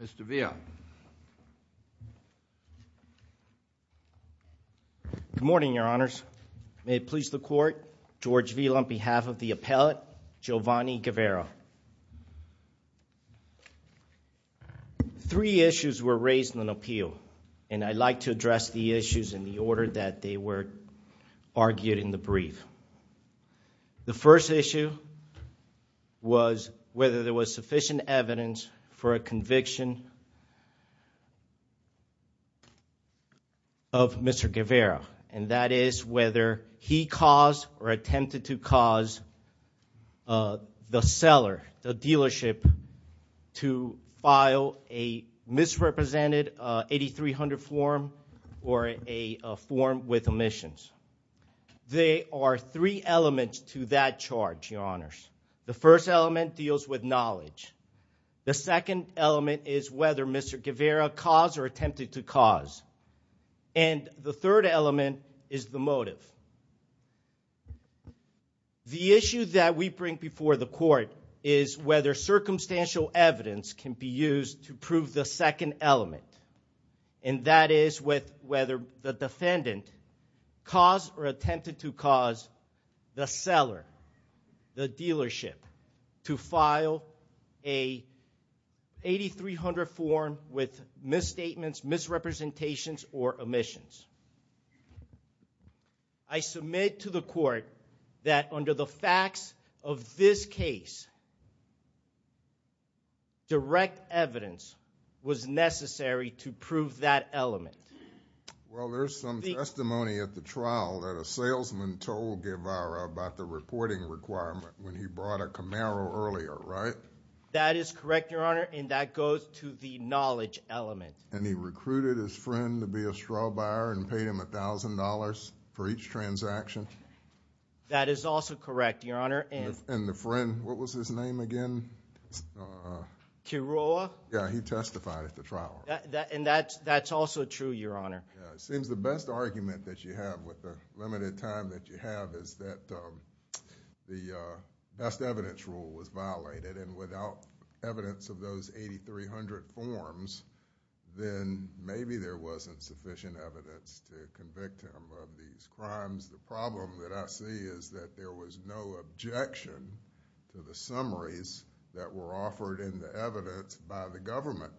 Mr. Villa. Good morning, your honors. May it please the court, George Villa on behalf of the appellate, Geovany Guevara. Three issues were raised in an appeal and I'd like to address the issues in the order that they were argued in the brief. The first issue was whether there was sufficient evidence for a conviction of Mr. Guevara and that is whether he caused or attempted to cause the seller, the dealership, to file a misrepresented 8300 form or a form with omissions. There are three elements to that charge, your honors. The first element deals with knowledge. The second element is whether Mr. Guevara caused or attempted to cause and the third element is the motive. The issue that we bring before the court is whether circumstantial evidence can be used to prove the second element and that is with whether the defendant caused or attempted to cause the dealership to file a 8300 form with misstatements, misrepresentations or omissions. I submit to the court that under the facts of this case, direct evidence was necessary to prove that element. Well, there's some testimony at the trial that a salesman told Guevara about the reporting requirement when he brought a Camaro earlier, right? That is correct, your honor, and that goes to the knowledge element. And he recruited his friend to be a straw buyer and paid him a thousand dollars for each transaction? That is also correct, your honor. And the friend, what was his name again? Quiroa? Yeah, he testified at the trial. And that's also true, your honor. It seems the best argument that you have with the limited time that you have is that the best evidence rule was violated and without evidence of those 8300 forms, then maybe there wasn't sufficient evidence to convict him of these crimes. The problem that I see is that there was no objection to the summaries that were offered in the evidence by the government.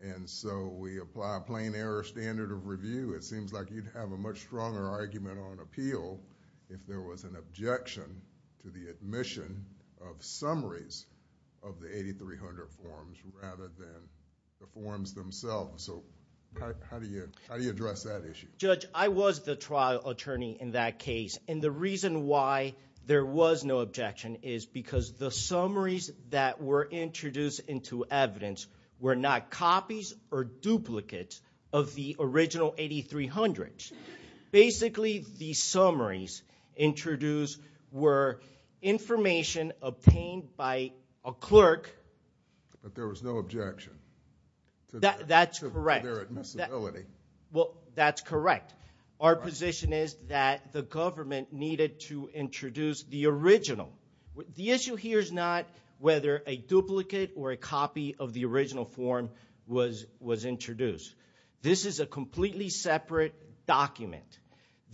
And so, we apply a plain error standard of review. It seems like you'd have a much stronger argument on appeal if there was an objection to the admission of summaries of the 8300 forms rather than the forms themselves. So, how do you address that issue? Judge, I was the trial attorney in that case and the reason why there was no objection is because the summaries that were introduced into evidence were not summaries introduced, were information obtained by a clerk. But there was no objection? That's correct. To their admissibility? Well, that's correct. Our position is that the government needed to introduce the original. The issue here is not whether a duplicate or a copy of the original form was introduced. This is a completely separate document.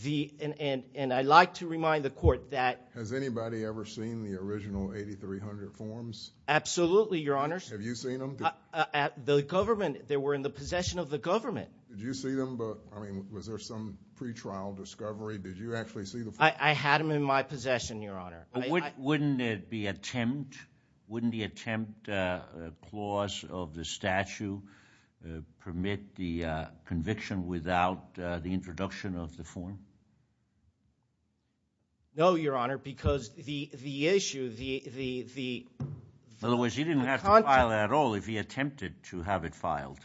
And I'd like to remind the court that... Has anybody ever seen the original 8300 forms? Absolutely, Your Honor. Have you seen them? The government, they were in the possession of the government. Did you see them? I mean, was there some pretrial discovery? Did you actually see the forms? I had them in my possession, Your Honor. Wouldn't the attempt clause of the statute permit the conviction without the introduction of the form? No, Your Honor, because the issue, the... In other words, he didn't have to file it at all if he attempted to have it filed.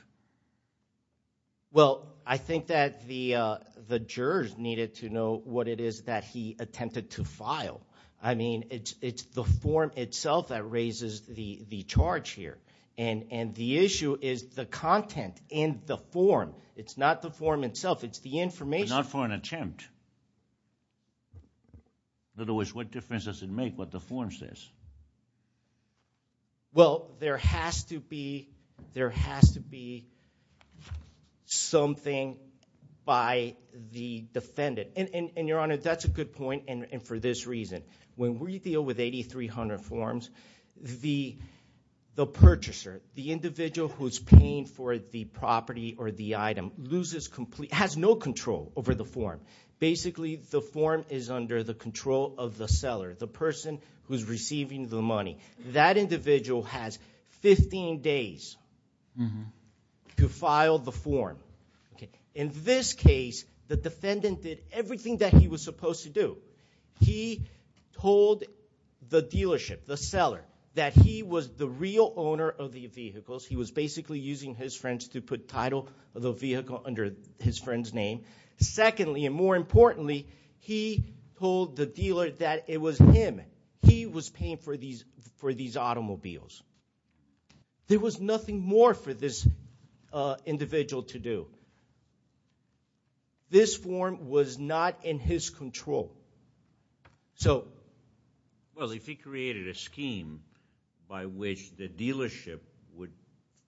Well, I think that the jurors needed to know what it is that he attempted to file. I mean, it's the form itself that raises the charge here. And the issue is the content in the form. It's not the form itself. It's the information. But not for an attempt. In other words, what difference does it make what the form says? Well, there has to be something by the defendant. And, Your Honor, that's a good point, and for this reason. When we deal with 8,300 forms, the purchaser, the individual who's paying for the property or the item, has no control over the form. Basically, the form is under the control of the seller, the person who's receiving the money. That individual has 15 days to file the form. In this case, the defendant did everything that he was supposed to do. He told the dealership, the seller, that he was the real owner of the vehicles. He was basically using his friends to put title of the vehicle under his friend's name. Secondly, and more importantly, he told the dealer that it was him. He was paying for these automobiles. There was nothing more for this individual to do. This form was not in his control. Well, if he created a scheme by which the dealership would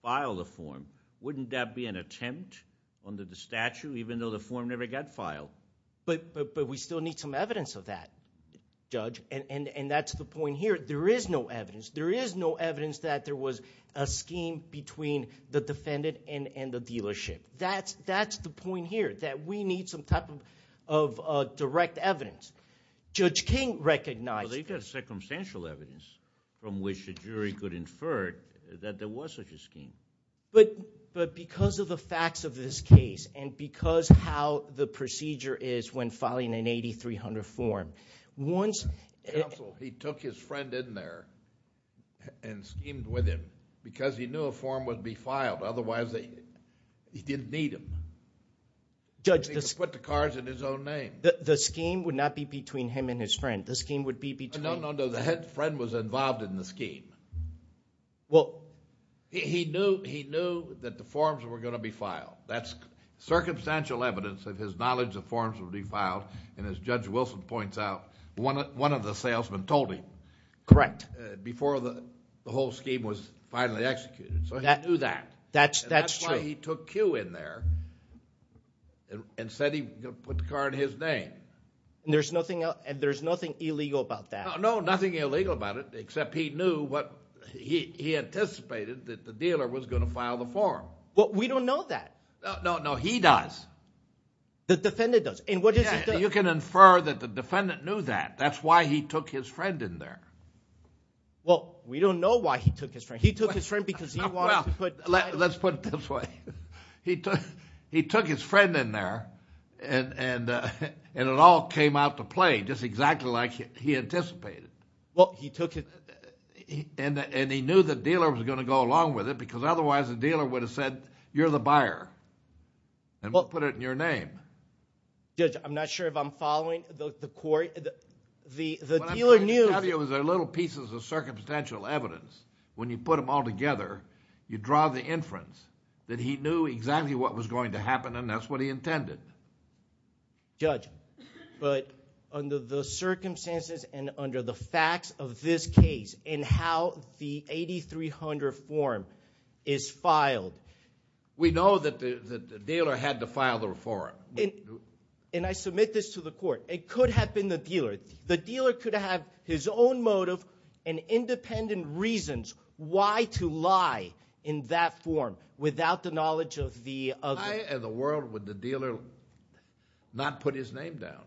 file the form, wouldn't that be an attempt under the statute even though the form never got filed? But we still need some evidence of that, Judge, and that's the point here. There is no evidence. There is no evidence that there was a scheme between the defendant and the dealership. That's the point here, that we need some type of direct evidence. Judge King recognized— Well, they've got circumstantial evidence from which a jury could infer that there was such a scheme. But because of the facts of this case and because how the procedure is when filing an 8300 form, once— Counsel, he took his friend in there and schemed with him because he knew a form would be filed. Otherwise, he didn't need him. He could put the cards in his own name. The scheme would not be between him and his friend. The scheme would be between— No, no, no. The friend was involved in the scheme. He knew that the forms were going to be filed. That's circumstantial evidence that his knowledge of forms would be filed. And as Judge Wilson points out, one of the salesmen told him before the whole scheme was finally executed. So he knew that. That's true. And that's why he took Q in there and said he would put the card in his name. And there's nothing illegal about that? No, nothing illegal about it except he knew what—he anticipated that the dealer was going to file the form. But we don't know that. No, no, he does. The defendant does. And what does he do? You can infer that the defendant knew that. That's why he took his friend in there. Well, we don't know why he took his friend. He took his friend because he wanted to put— Let's put it this way. He took his friend in there, and it all came out to play just exactly like he anticipated. Well, he took his— And he knew the dealer was going to go along with it because otherwise the dealer would have said, you're the buyer, and we'll put it in your name. Judge, I'm not sure if I'm following the court. The dealer knew— What I'm trying to tell you is there are little pieces of circumstantial evidence. When you put them all together, you draw the inference that he knew exactly what was going to happen, and that's what he intended. Judge, but under the circumstances and under the facts of this case and how the 8300 form is filed— We know that the dealer had to file the reform. And I submit this to the court. It could have been the dealer. The dealer could have his own motive and independent reasons why to lie in that form without the knowledge of the other. Why in the world would the dealer not put his name down?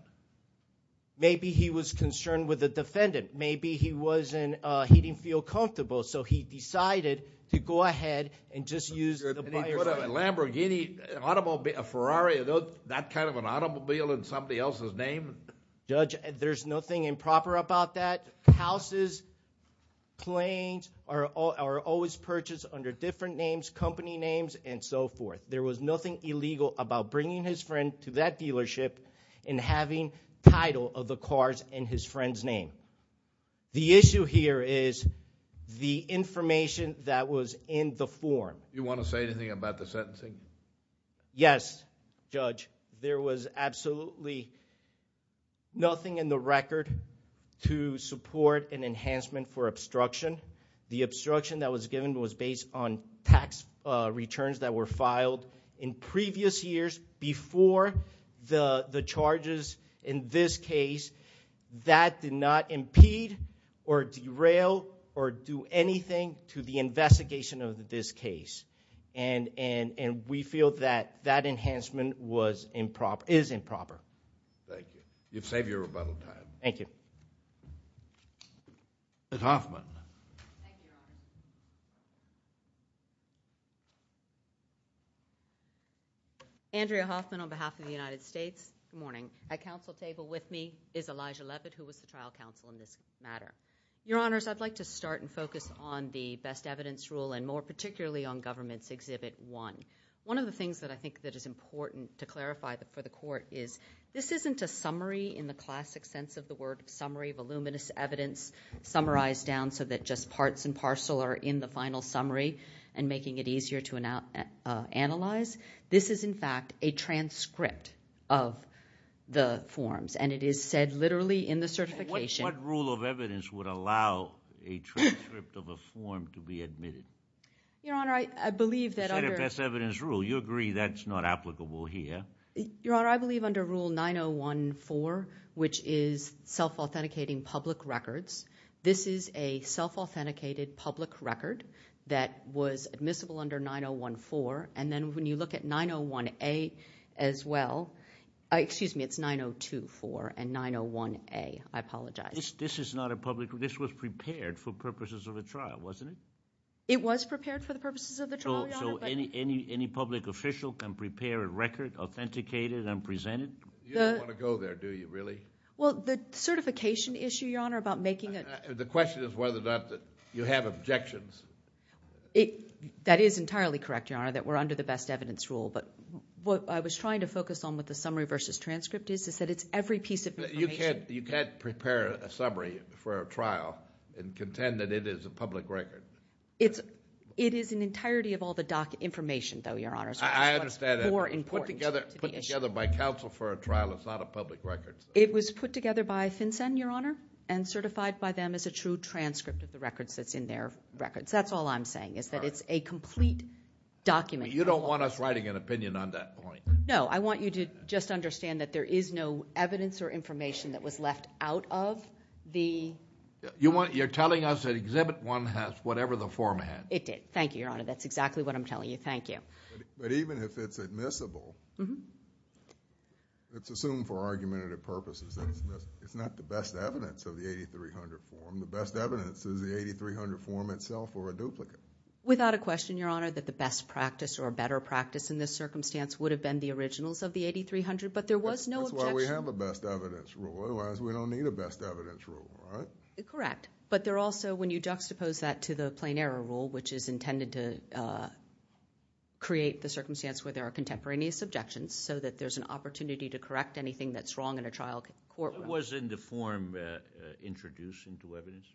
Maybe he was concerned with the defendant. Maybe he didn't feel comfortable, so he decided to go ahead and just use the buyer's name. And he put a Lamborghini, a Ferrari, that kind of an automobile in somebody else's name? Judge, there's nothing improper about that. Houses, planes are always purchased under different names, company names, and so forth. There was nothing illegal about bringing his friend to that dealership and having title of the cars in his friend's name. The issue here is the information that was in the form. Do you want to say anything about the sentencing? Yes, Judge. There was absolutely nothing in the record to support an enhancement for obstruction. The obstruction that was given was based on tax returns that were filed in previous years before the charges in this case. That did not impede or derail or do anything to the investigation of this case. And we feel that that enhancement is improper. Thank you. You've saved your rebuttal time. Thank you. Ms. Hoffman. Thank you, Your Honor. Andrea Hoffman on behalf of the United States. Good morning. At counsel table with me is Elijah Levitt, who was the trial counsel in this matter. Your Honors, I'd like to start and focus on the best evidence rule and more particularly on Government's Exhibit 1. One of the things that I think that is important to clarify for the court is this isn't a summary in the classic sense of the word summary, voluminous evidence summarized down so that just parts and parcel are in the final summary and making it easier to analyze. This is, in fact, a transcript of the forms, and it is said literally in the certification. What rule of evidence would allow a transcript of a form to be admitted? Your Honor, I believe that under – The best evidence rule. You agree that's not applicable here. Your Honor, I believe under Rule 9014, which is self-authenticating public records, this is a self-authenticated public record that was admissible under 9014. And then when you look at 901A as well – excuse me, it's 9024 and 901A. I apologize. This is not a public – this was prepared for purposes of a trial, wasn't it? It was prepared for the purposes of the trial, Your Honor. So any public official can prepare a record, authenticate it, and present it? You don't want to go there, do you, really? Well, the certification issue, Your Honor, about making a – The question is whether or not you have objections. That is entirely correct, Your Honor, that we're under the best evidence rule. But what I was trying to focus on with the summary versus transcript is that it's every piece of information. You can't prepare a summary for a trial and contend that it is a public record. It is an entirety of all the doc information, though, Your Honor. I understand that. It's much more important to the issue. Put together by counsel for a trial is not a public record. It was put together by FinCEN, Your Honor, and certified by them as a true transcript of the records that's in their records. That's all I'm saying is that it's a complete document. You don't want us writing an opinion on that point. No. I want you to just understand that there is no evidence or information that was left out of the – You're telling us that Exhibit 1 has whatever the form had. It did. Thank you, Your Honor. That's exactly what I'm telling you. Thank you. But even if it's admissible, it's assumed for argumentative purposes, it's not the best evidence of the 8300 form. The best evidence is the 8300 form itself or a duplicate. Without a question, Your Honor, that the best practice or better practice in this circumstance would have been the originals of the 8300, but there was no objection. That's why we have a best evidence rule. Otherwise, we don't need a best evidence rule, right? Correct. But there also, when you juxtapose that to the plain error rule, which is intended to create the circumstance where there are contemporaneous objections so that there's an opportunity to correct anything that's wrong in a trial courtroom. What was in the form introduced into evidence?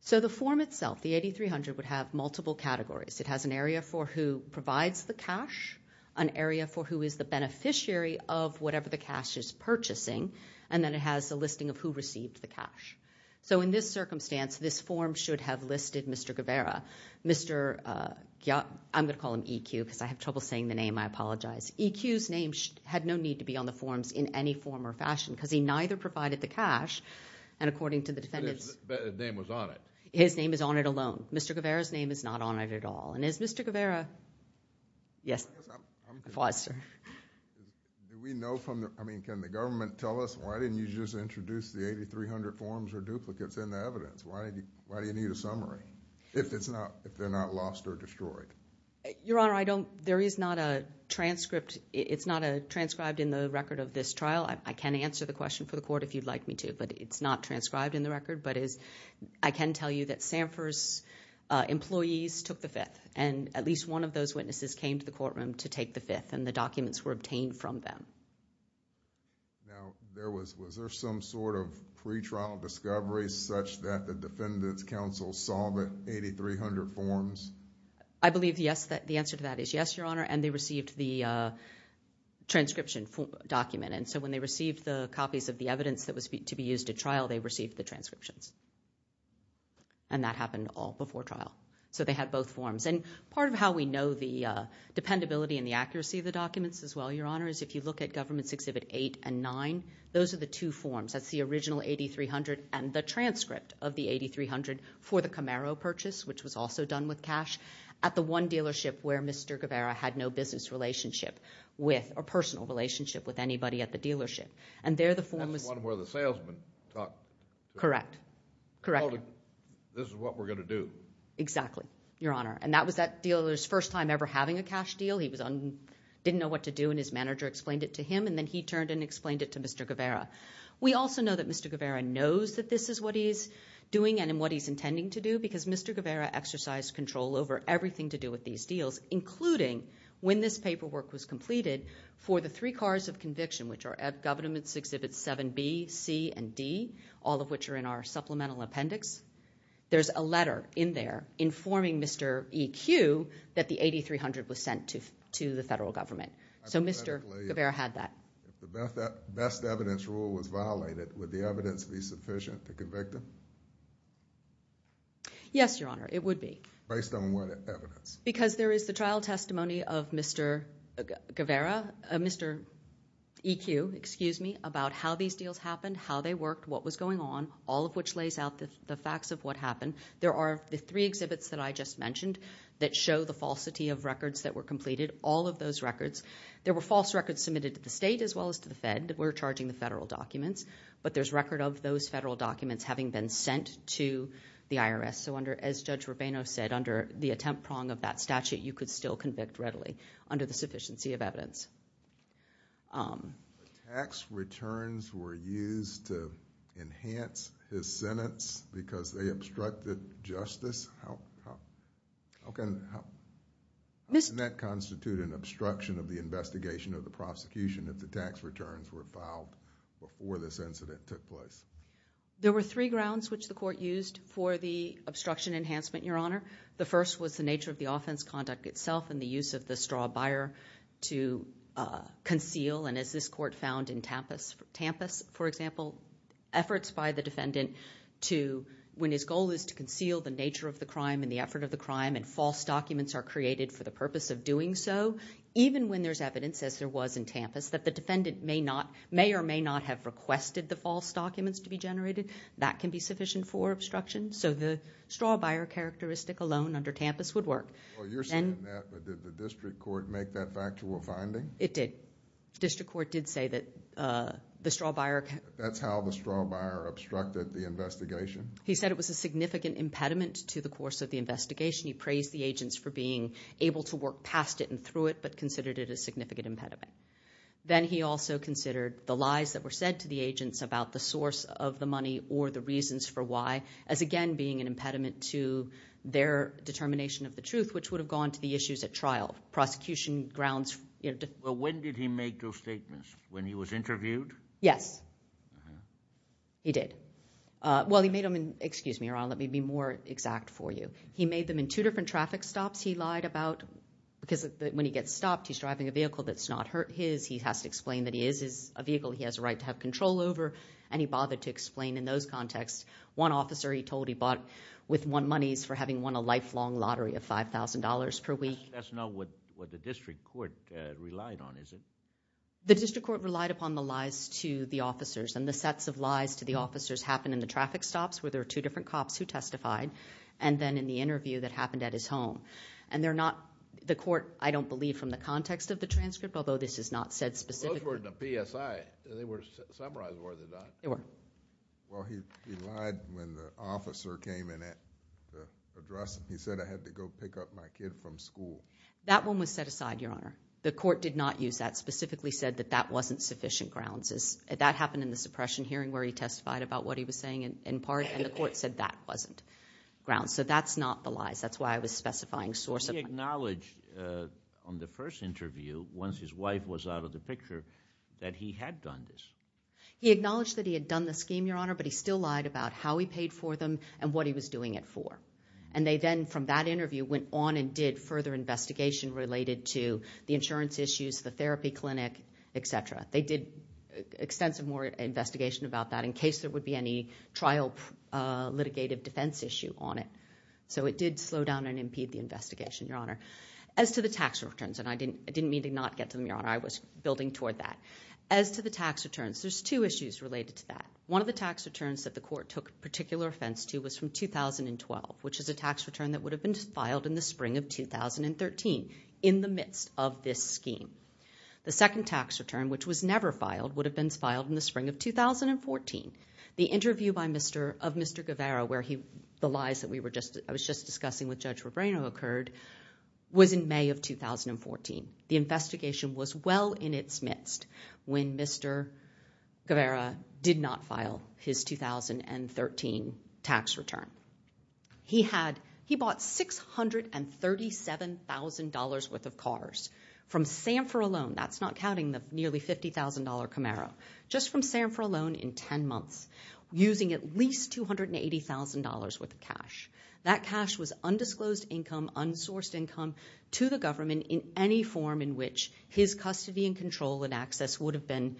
So the form itself, the 8300, would have multiple categories. It has an area for who provides the cash, an area for who is the beneficiary of whatever the cash is purchasing, and then it has a listing of who received the cash. So in this circumstance, this form should have listed Mr. Guevara. I'm going to call him EQ because I have trouble saying the name. I apologize. EQ's name had no need to be on the forms in any form or fashion because he neither provided the cash, and according to the defendant's— His name was on it. His name is on it alone. Mr. Guevara's name is not on it at all. And is Mr. Guevara—yes. I'm good. I'm fine, sir. Do we know from the—I mean, can the government tell us, why didn't you just introduce the 8300 forms or duplicates in the evidence? Why do you need a summary if they're not lost or destroyed? Your Honor, I don't—there is not a transcript. It's not transcribed in the record of this trial. I can answer the question for the court if you'd like me to, but it's not transcribed in the record. But I can tell you that SAMHSA's employees took the fifth, and at least one of those witnesses came to the courtroom to take the fifth, and the documents were obtained from them. Now, was there some sort of pretrial discovery such that the defendant's counsel saw the 8300 forms? I believe the answer to that is yes, Your Honor, and they received the transcription document. And so when they received the copies of the evidence that was to be used at trial, they received the transcriptions. And that happened all before trial. So they had both forms. And part of how we know the dependability and the accuracy of the documents as well, Your Honor, is if you look at Governments Exhibit 8 and 9, those are the two forms. That's the original 8300 and the transcript of the 8300 for the Camaro purchase, which was also done with cash, at the one dealership where Mr. Guevara had no business relationship with or personal relationship with anybody at the dealership. And there the form was... That's the one where the salesman talked... Correct. Correct. This is what we're going to do. Exactly, Your Honor. And that was that dealer's first time ever having a cash deal. He didn't know what to do, and his manager explained it to him, and then he turned and explained it to Mr. Guevara. We also know that Mr. Guevara knows that this is what he's doing and what he's intending to do because Mr. Guevara exercised control over everything to do with these deals, including when this paperwork was completed for the three cards of conviction, which are at Governments Exhibits 7B, C, and D, all of which are in our supplemental appendix. There's a letter in there informing Mr. E.Q. that the 8300 was sent to the federal government. So Mr. Guevara had that. If the best evidence rule was violated, would the evidence be sufficient to convict him? Yes, Your Honor, it would be. Based on what evidence? Because there is the trial testimony of Mr. Guevara, Mr. E.Q., excuse me, about how these deals happened, how they worked, what was going on, all of which lays out the facts of what happened. There are the three exhibits that I just mentioned that show the falsity of records that were completed. All of those records, there were false records submitted to the state as well as to the Fed that were charging the federal documents, but there's record of those federal documents having been sent to the IRS. So as Judge Rubino said, under the attempt prong of that statute, you could still convict readily under the sufficiency of evidence. Tax returns were used to enhance his sentence because they obstructed justice? How can that constitute an obstruction of the investigation or the prosecution if the tax returns were filed before this incident took place? There were three grounds which the court used for the obstruction enhancement, Your Honor. The first was the nature of the offense conduct itself and the use of the straw buyer to conceal, and as this court found in Tampas, for example, efforts by the defendant to, when his goal is to conceal the nature of the crime and the effort of the crime and false documents are created for the purpose of doing so, even when there's evidence, as there was in Tampas, that the defendant may or may not have requested the false documents to be generated, that can be sufficient for obstruction. So the straw buyer characteristic alone under Tampas would work. You're saying that, but did the district court make that factual finding? It did. District court did say that the straw buyer… He said it was a significant impediment to the course of the investigation. He praised the agents for being able to work past it and through it, but considered it a significant impediment. Then he also considered the lies that were said to the agents about the source of the money or the reasons for why as, again, being an impediment to their determination of the truth, which would have gone to the issues at trial, prosecution grounds. Well, when did he make those statements? When he was interviewed? Yes, he did. Well, he made them in—excuse me, Your Honor, let me be more exact for you. He made them in two different traffic stops he lied about because when he gets stopped, he's driving a vehicle that's not his. He has to explain that he is a vehicle he has a right to have control over, and he bothered to explain in those contexts. One officer he told he bought with money for having won a lifelong lottery of $5,000 per week. That's not what the district court relied on, is it? The district court relied upon the lies to the officers and the sets of lies to the officers happen in the traffic stops where there are two different cops who testified and then in the interview that happened at his home. And they're not—the court, I don't believe, from the context of the transcript, although this is not said specifically— Those weren't the PSI. They were summarized, were they not? They were. Well, he lied when the officer came in to address him. He said, I had to go pick up my kid from school. That one was set aside, Your Honor. The court did not use that, specifically said that that wasn't sufficient grounds. That happened in the suppression hearing where he testified about what he was saying in part, and the court said that wasn't grounds. So that's not the lies. That's why I was specifying sources. But he acknowledged on the first interview, once his wife was out of the picture, that he had done this. He acknowledged that he had done the scheme, Your Honor, but he still lied about how he paid for them and what he was doing it for. And they then, from that interview, went on and did further investigation related to the insurance issues, the therapy clinic, et cetera. They did extensive more investigation about that in case there would be any trial litigative defense issue on it. So it did slow down and impede the investigation, Your Honor. As to the tax returns, and I didn't mean to not get to them, Your Honor. I was building toward that. As to the tax returns, there's two issues related to that. One of the tax returns that the court took particular offense to was from 2012, which is a tax return that would have been filed in the spring of 2013 in the midst of this scheme. The second tax return, which was never filed, would have been filed in the spring of 2014. The interview of Mr. Guevara, where the lies that I was just discussing with Judge Rebrano occurred, was in May of 2014. The investigation was well in its midst when Mr. Guevara did not file his 2013 tax return. He bought $637,000 worth of cars from Sanford alone. That's not counting the nearly $50,000 Camaro. Just from Sanford alone in 10 months, using at least $280,000 worth of cash. That cash was undisclosed income, unsourced income to the government in any form in which his custody and control and access would have been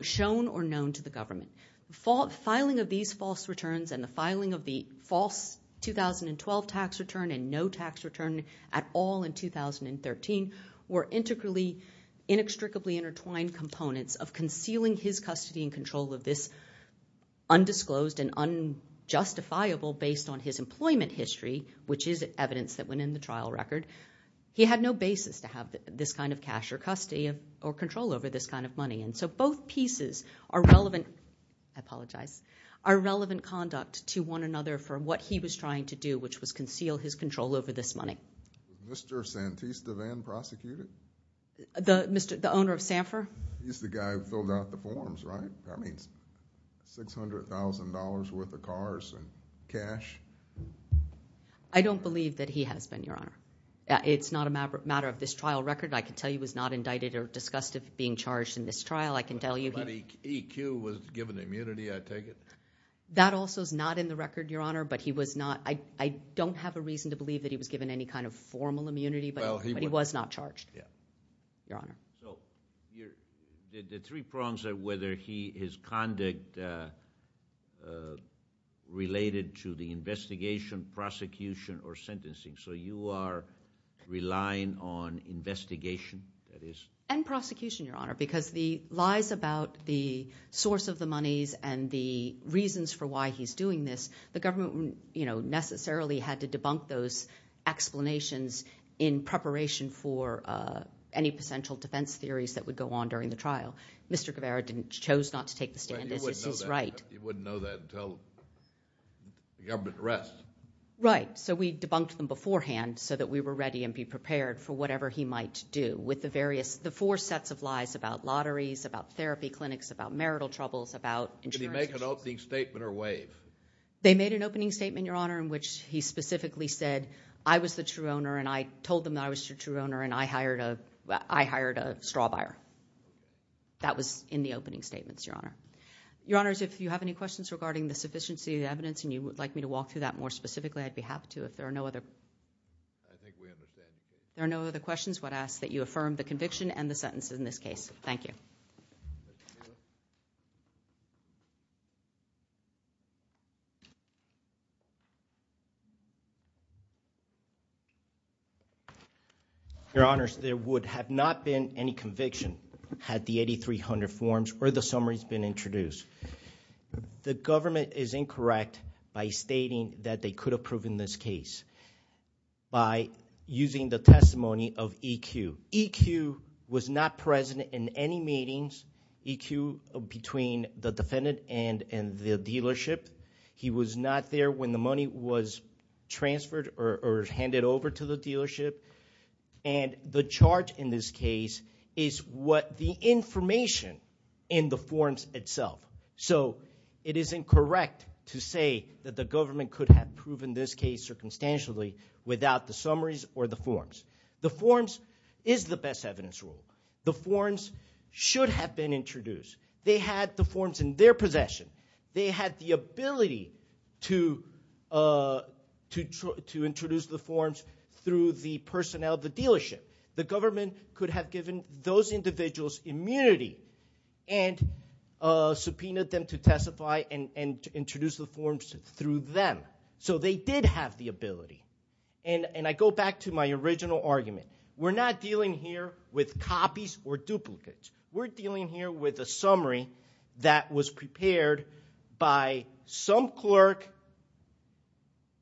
shown or known to the government. The filing of these false returns and the filing of the false 2012 tax return and no tax return at all in 2013 were integrally, inextricably intertwined components of concealing his custody and control of this undisclosed and unjustifiable based on his employment history, which is evidence that went in the trial record. He had no basis to have this kind of cash or custody or control over this kind of money. Both pieces are relevant conduct to one another for what he was trying to do, which was conceal his control over this money. Was Mr. Santista Van prosecuted? The owner of Sanford? He's the guy who filled out the forms, right? That means $600,000 worth of cars and cash. I don't believe that he has been, Your Honor. It's not a matter of this trial record. I can tell you he was not indicted or discussed of being charged in this trial. I can tell you he was. E.Q. was given immunity, I take it? That also is not in the record, Your Honor, but he was not. I don't have a reason to believe that he was given any kind of formal immunity, but he was not charged, Your Honor. The three prongs are whether his conduct related to the investigation, prosecution, or sentencing. So you are relying on investigation, that is? And prosecution, Your Honor, because the lies about the source of the monies and the reasons for why he's doing this, the government necessarily had to debunk those explanations in preparation for any potential defense theories that would go on during the trial. Mr. Guevara chose not to take the stand, as is his right. He wouldn't know that until the government arrests. Right. So we debunked them beforehand so that we were ready and be prepared for whatever he might do with the various, the four sets of lies about lotteries, about therapy clinics, about marital troubles, about insurance. Did he make an opening statement or waive? They made an opening statement, Your Honor, in which he specifically said, I was the true owner and I told them that I was the true owner and I hired a straw buyer. That was in the opening statements, Your Honor. Your Honors, if you have any questions regarding the sufficiency of the evidence and you would like me to walk through that more specifically, I'd be happy to. If there are no other questions, I would ask that you affirm the conviction and the sentence in this case. Thank you. Your Honors, there would have not been any conviction had the 8300 forms or the summaries been introduced. The government is incorrect by stating that they could have proven this case by using the testimony of EQ. EQ was not present in any meetings, EQ, between the defendant and the dealership. He was not there when the money was transferred or handed over to the dealership. And the charge in this case is what the information in the forms itself. So it is incorrect to say that the government could have proven this case circumstantially without the summaries or the forms. The forms is the best evidence rule. The forms should have been introduced. They had the forms in their possession. They had the ability to introduce the forms through the personnel of the dealership. The government could have given those individuals immunity and subpoenaed them to testify and introduce the forms through them. So they did have the ability. And I go back to my original argument. We're not dealing here with copies or duplicates. We're dealing here with a summary that was prepared by some clerk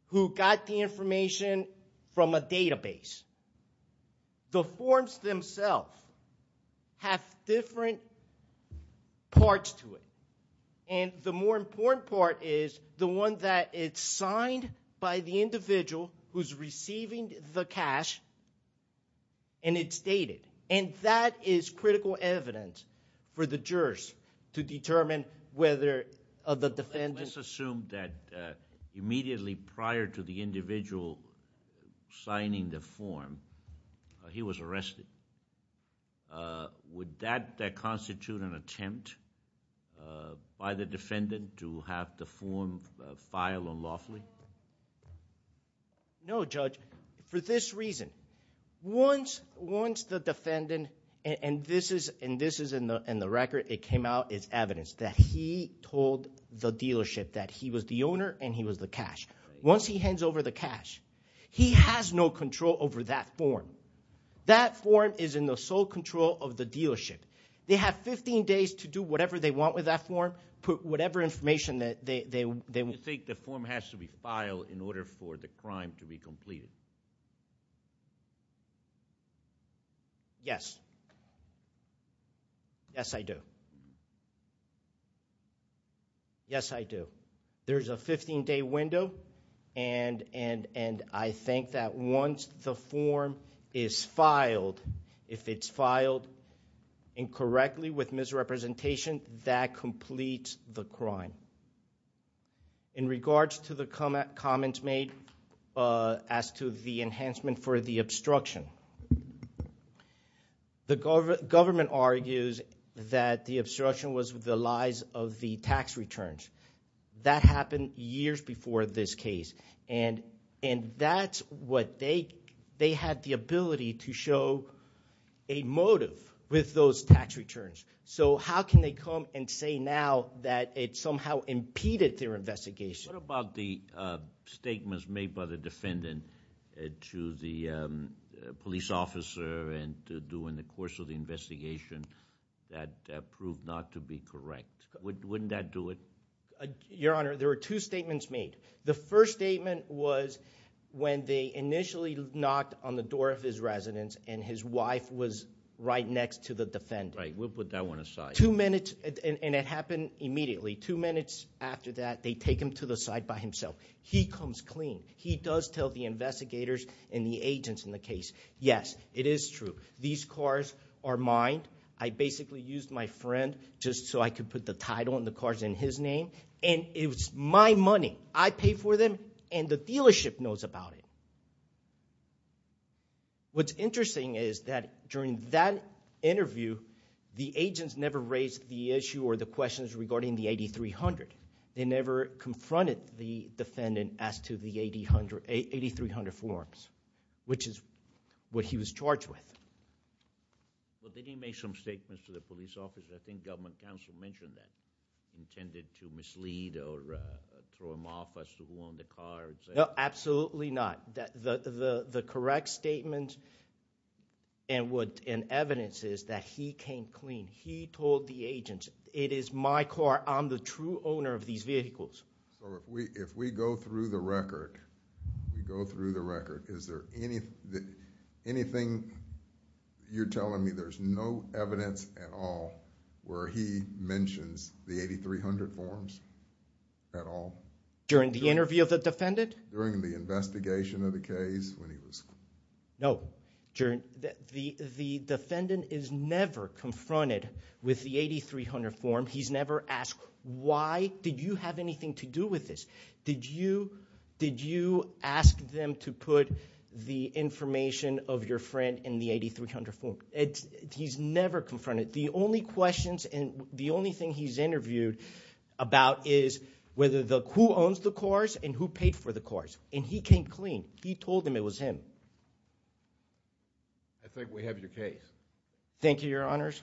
who got the information from a database. The forms themselves have different parts to it. And the more important part is the one that is signed by the individual who's receiving the cash, and it's dated. And that is critical evidence for the jurors to determine whether the defendant... Let's assume that immediately prior to the individual signing the form, he was arrested. Would that constitute an attempt by the defendant to have the form filed unlawfully? No, Judge. For this reason, once the defendant... And this is in the record. It came out as evidence that he told the dealership that he was the owner and he was the cash. Once he hands over the cash, he has no control over that form. That form is in the sole control of the dealership. They have 15 days to do whatever they want with that form, put whatever information that they... Do you think the form has to be filed in order for the crime to be completed? Yes. Yes, I do. Yes, I do. There's a 15-day window, and I think that once the form is filed, if it's filed incorrectly with misrepresentation, that completes the crime. In regards to the comments made as to the enhancement for the obstruction, the government argues that the obstruction was the lies of the tax returns. That happened years before this case. And that's what they... they had the ability to show a motive with those tax returns. So how can they come and say now that it somehow impeded their investigation? What about the statements made by the defendant to the police officer and to do in the course of the investigation that proved not to be correct? Wouldn't that do it? Your Honor, there were two statements made. The first statement was when they initially knocked on the door of his residence, and his wife was right next to the defendant. Right. We'll put that one aside. Two minutes, and it happened immediately. Two minutes after that, they take him to the side by himself. He comes clean. He does tell the investigators and the agents in the case, yes, it is true. These cars are mine. I basically used my friend just so I could put the title and the cars in his name. And it was my money. I paid for them, and the dealership knows about it. What's interesting is that during that interview, the agents never raised the issue or the questions regarding the 8300. They never confronted the defendant as to the 8300 forms, which is what he was charged with. Well, then he made some statements to the police officer. I think government counsel mentioned that, intended to mislead or throw him off as to who owned the cars. No, absolutely not. The correct statement and evidence is that he came clean. He told the agents, it is my car. I'm the true owner of these vehicles. If we go through the record, is there anything... you're telling me there's no evidence at all where he mentions the 8300 forms at all? During the interview of the defendant? During the investigation of the case when he was... No. The defendant is never confronted with the 8300 form. He's never asked, why did you have anything to do with this? Did you ask them to put the information of your friend in the 8300 form? He's never confronted. The only questions and the only thing he's interviewed about is who owns the cars and who paid for the cars. And he came clean. He told them it was him. I think we have your case. Thank you, Your Honors.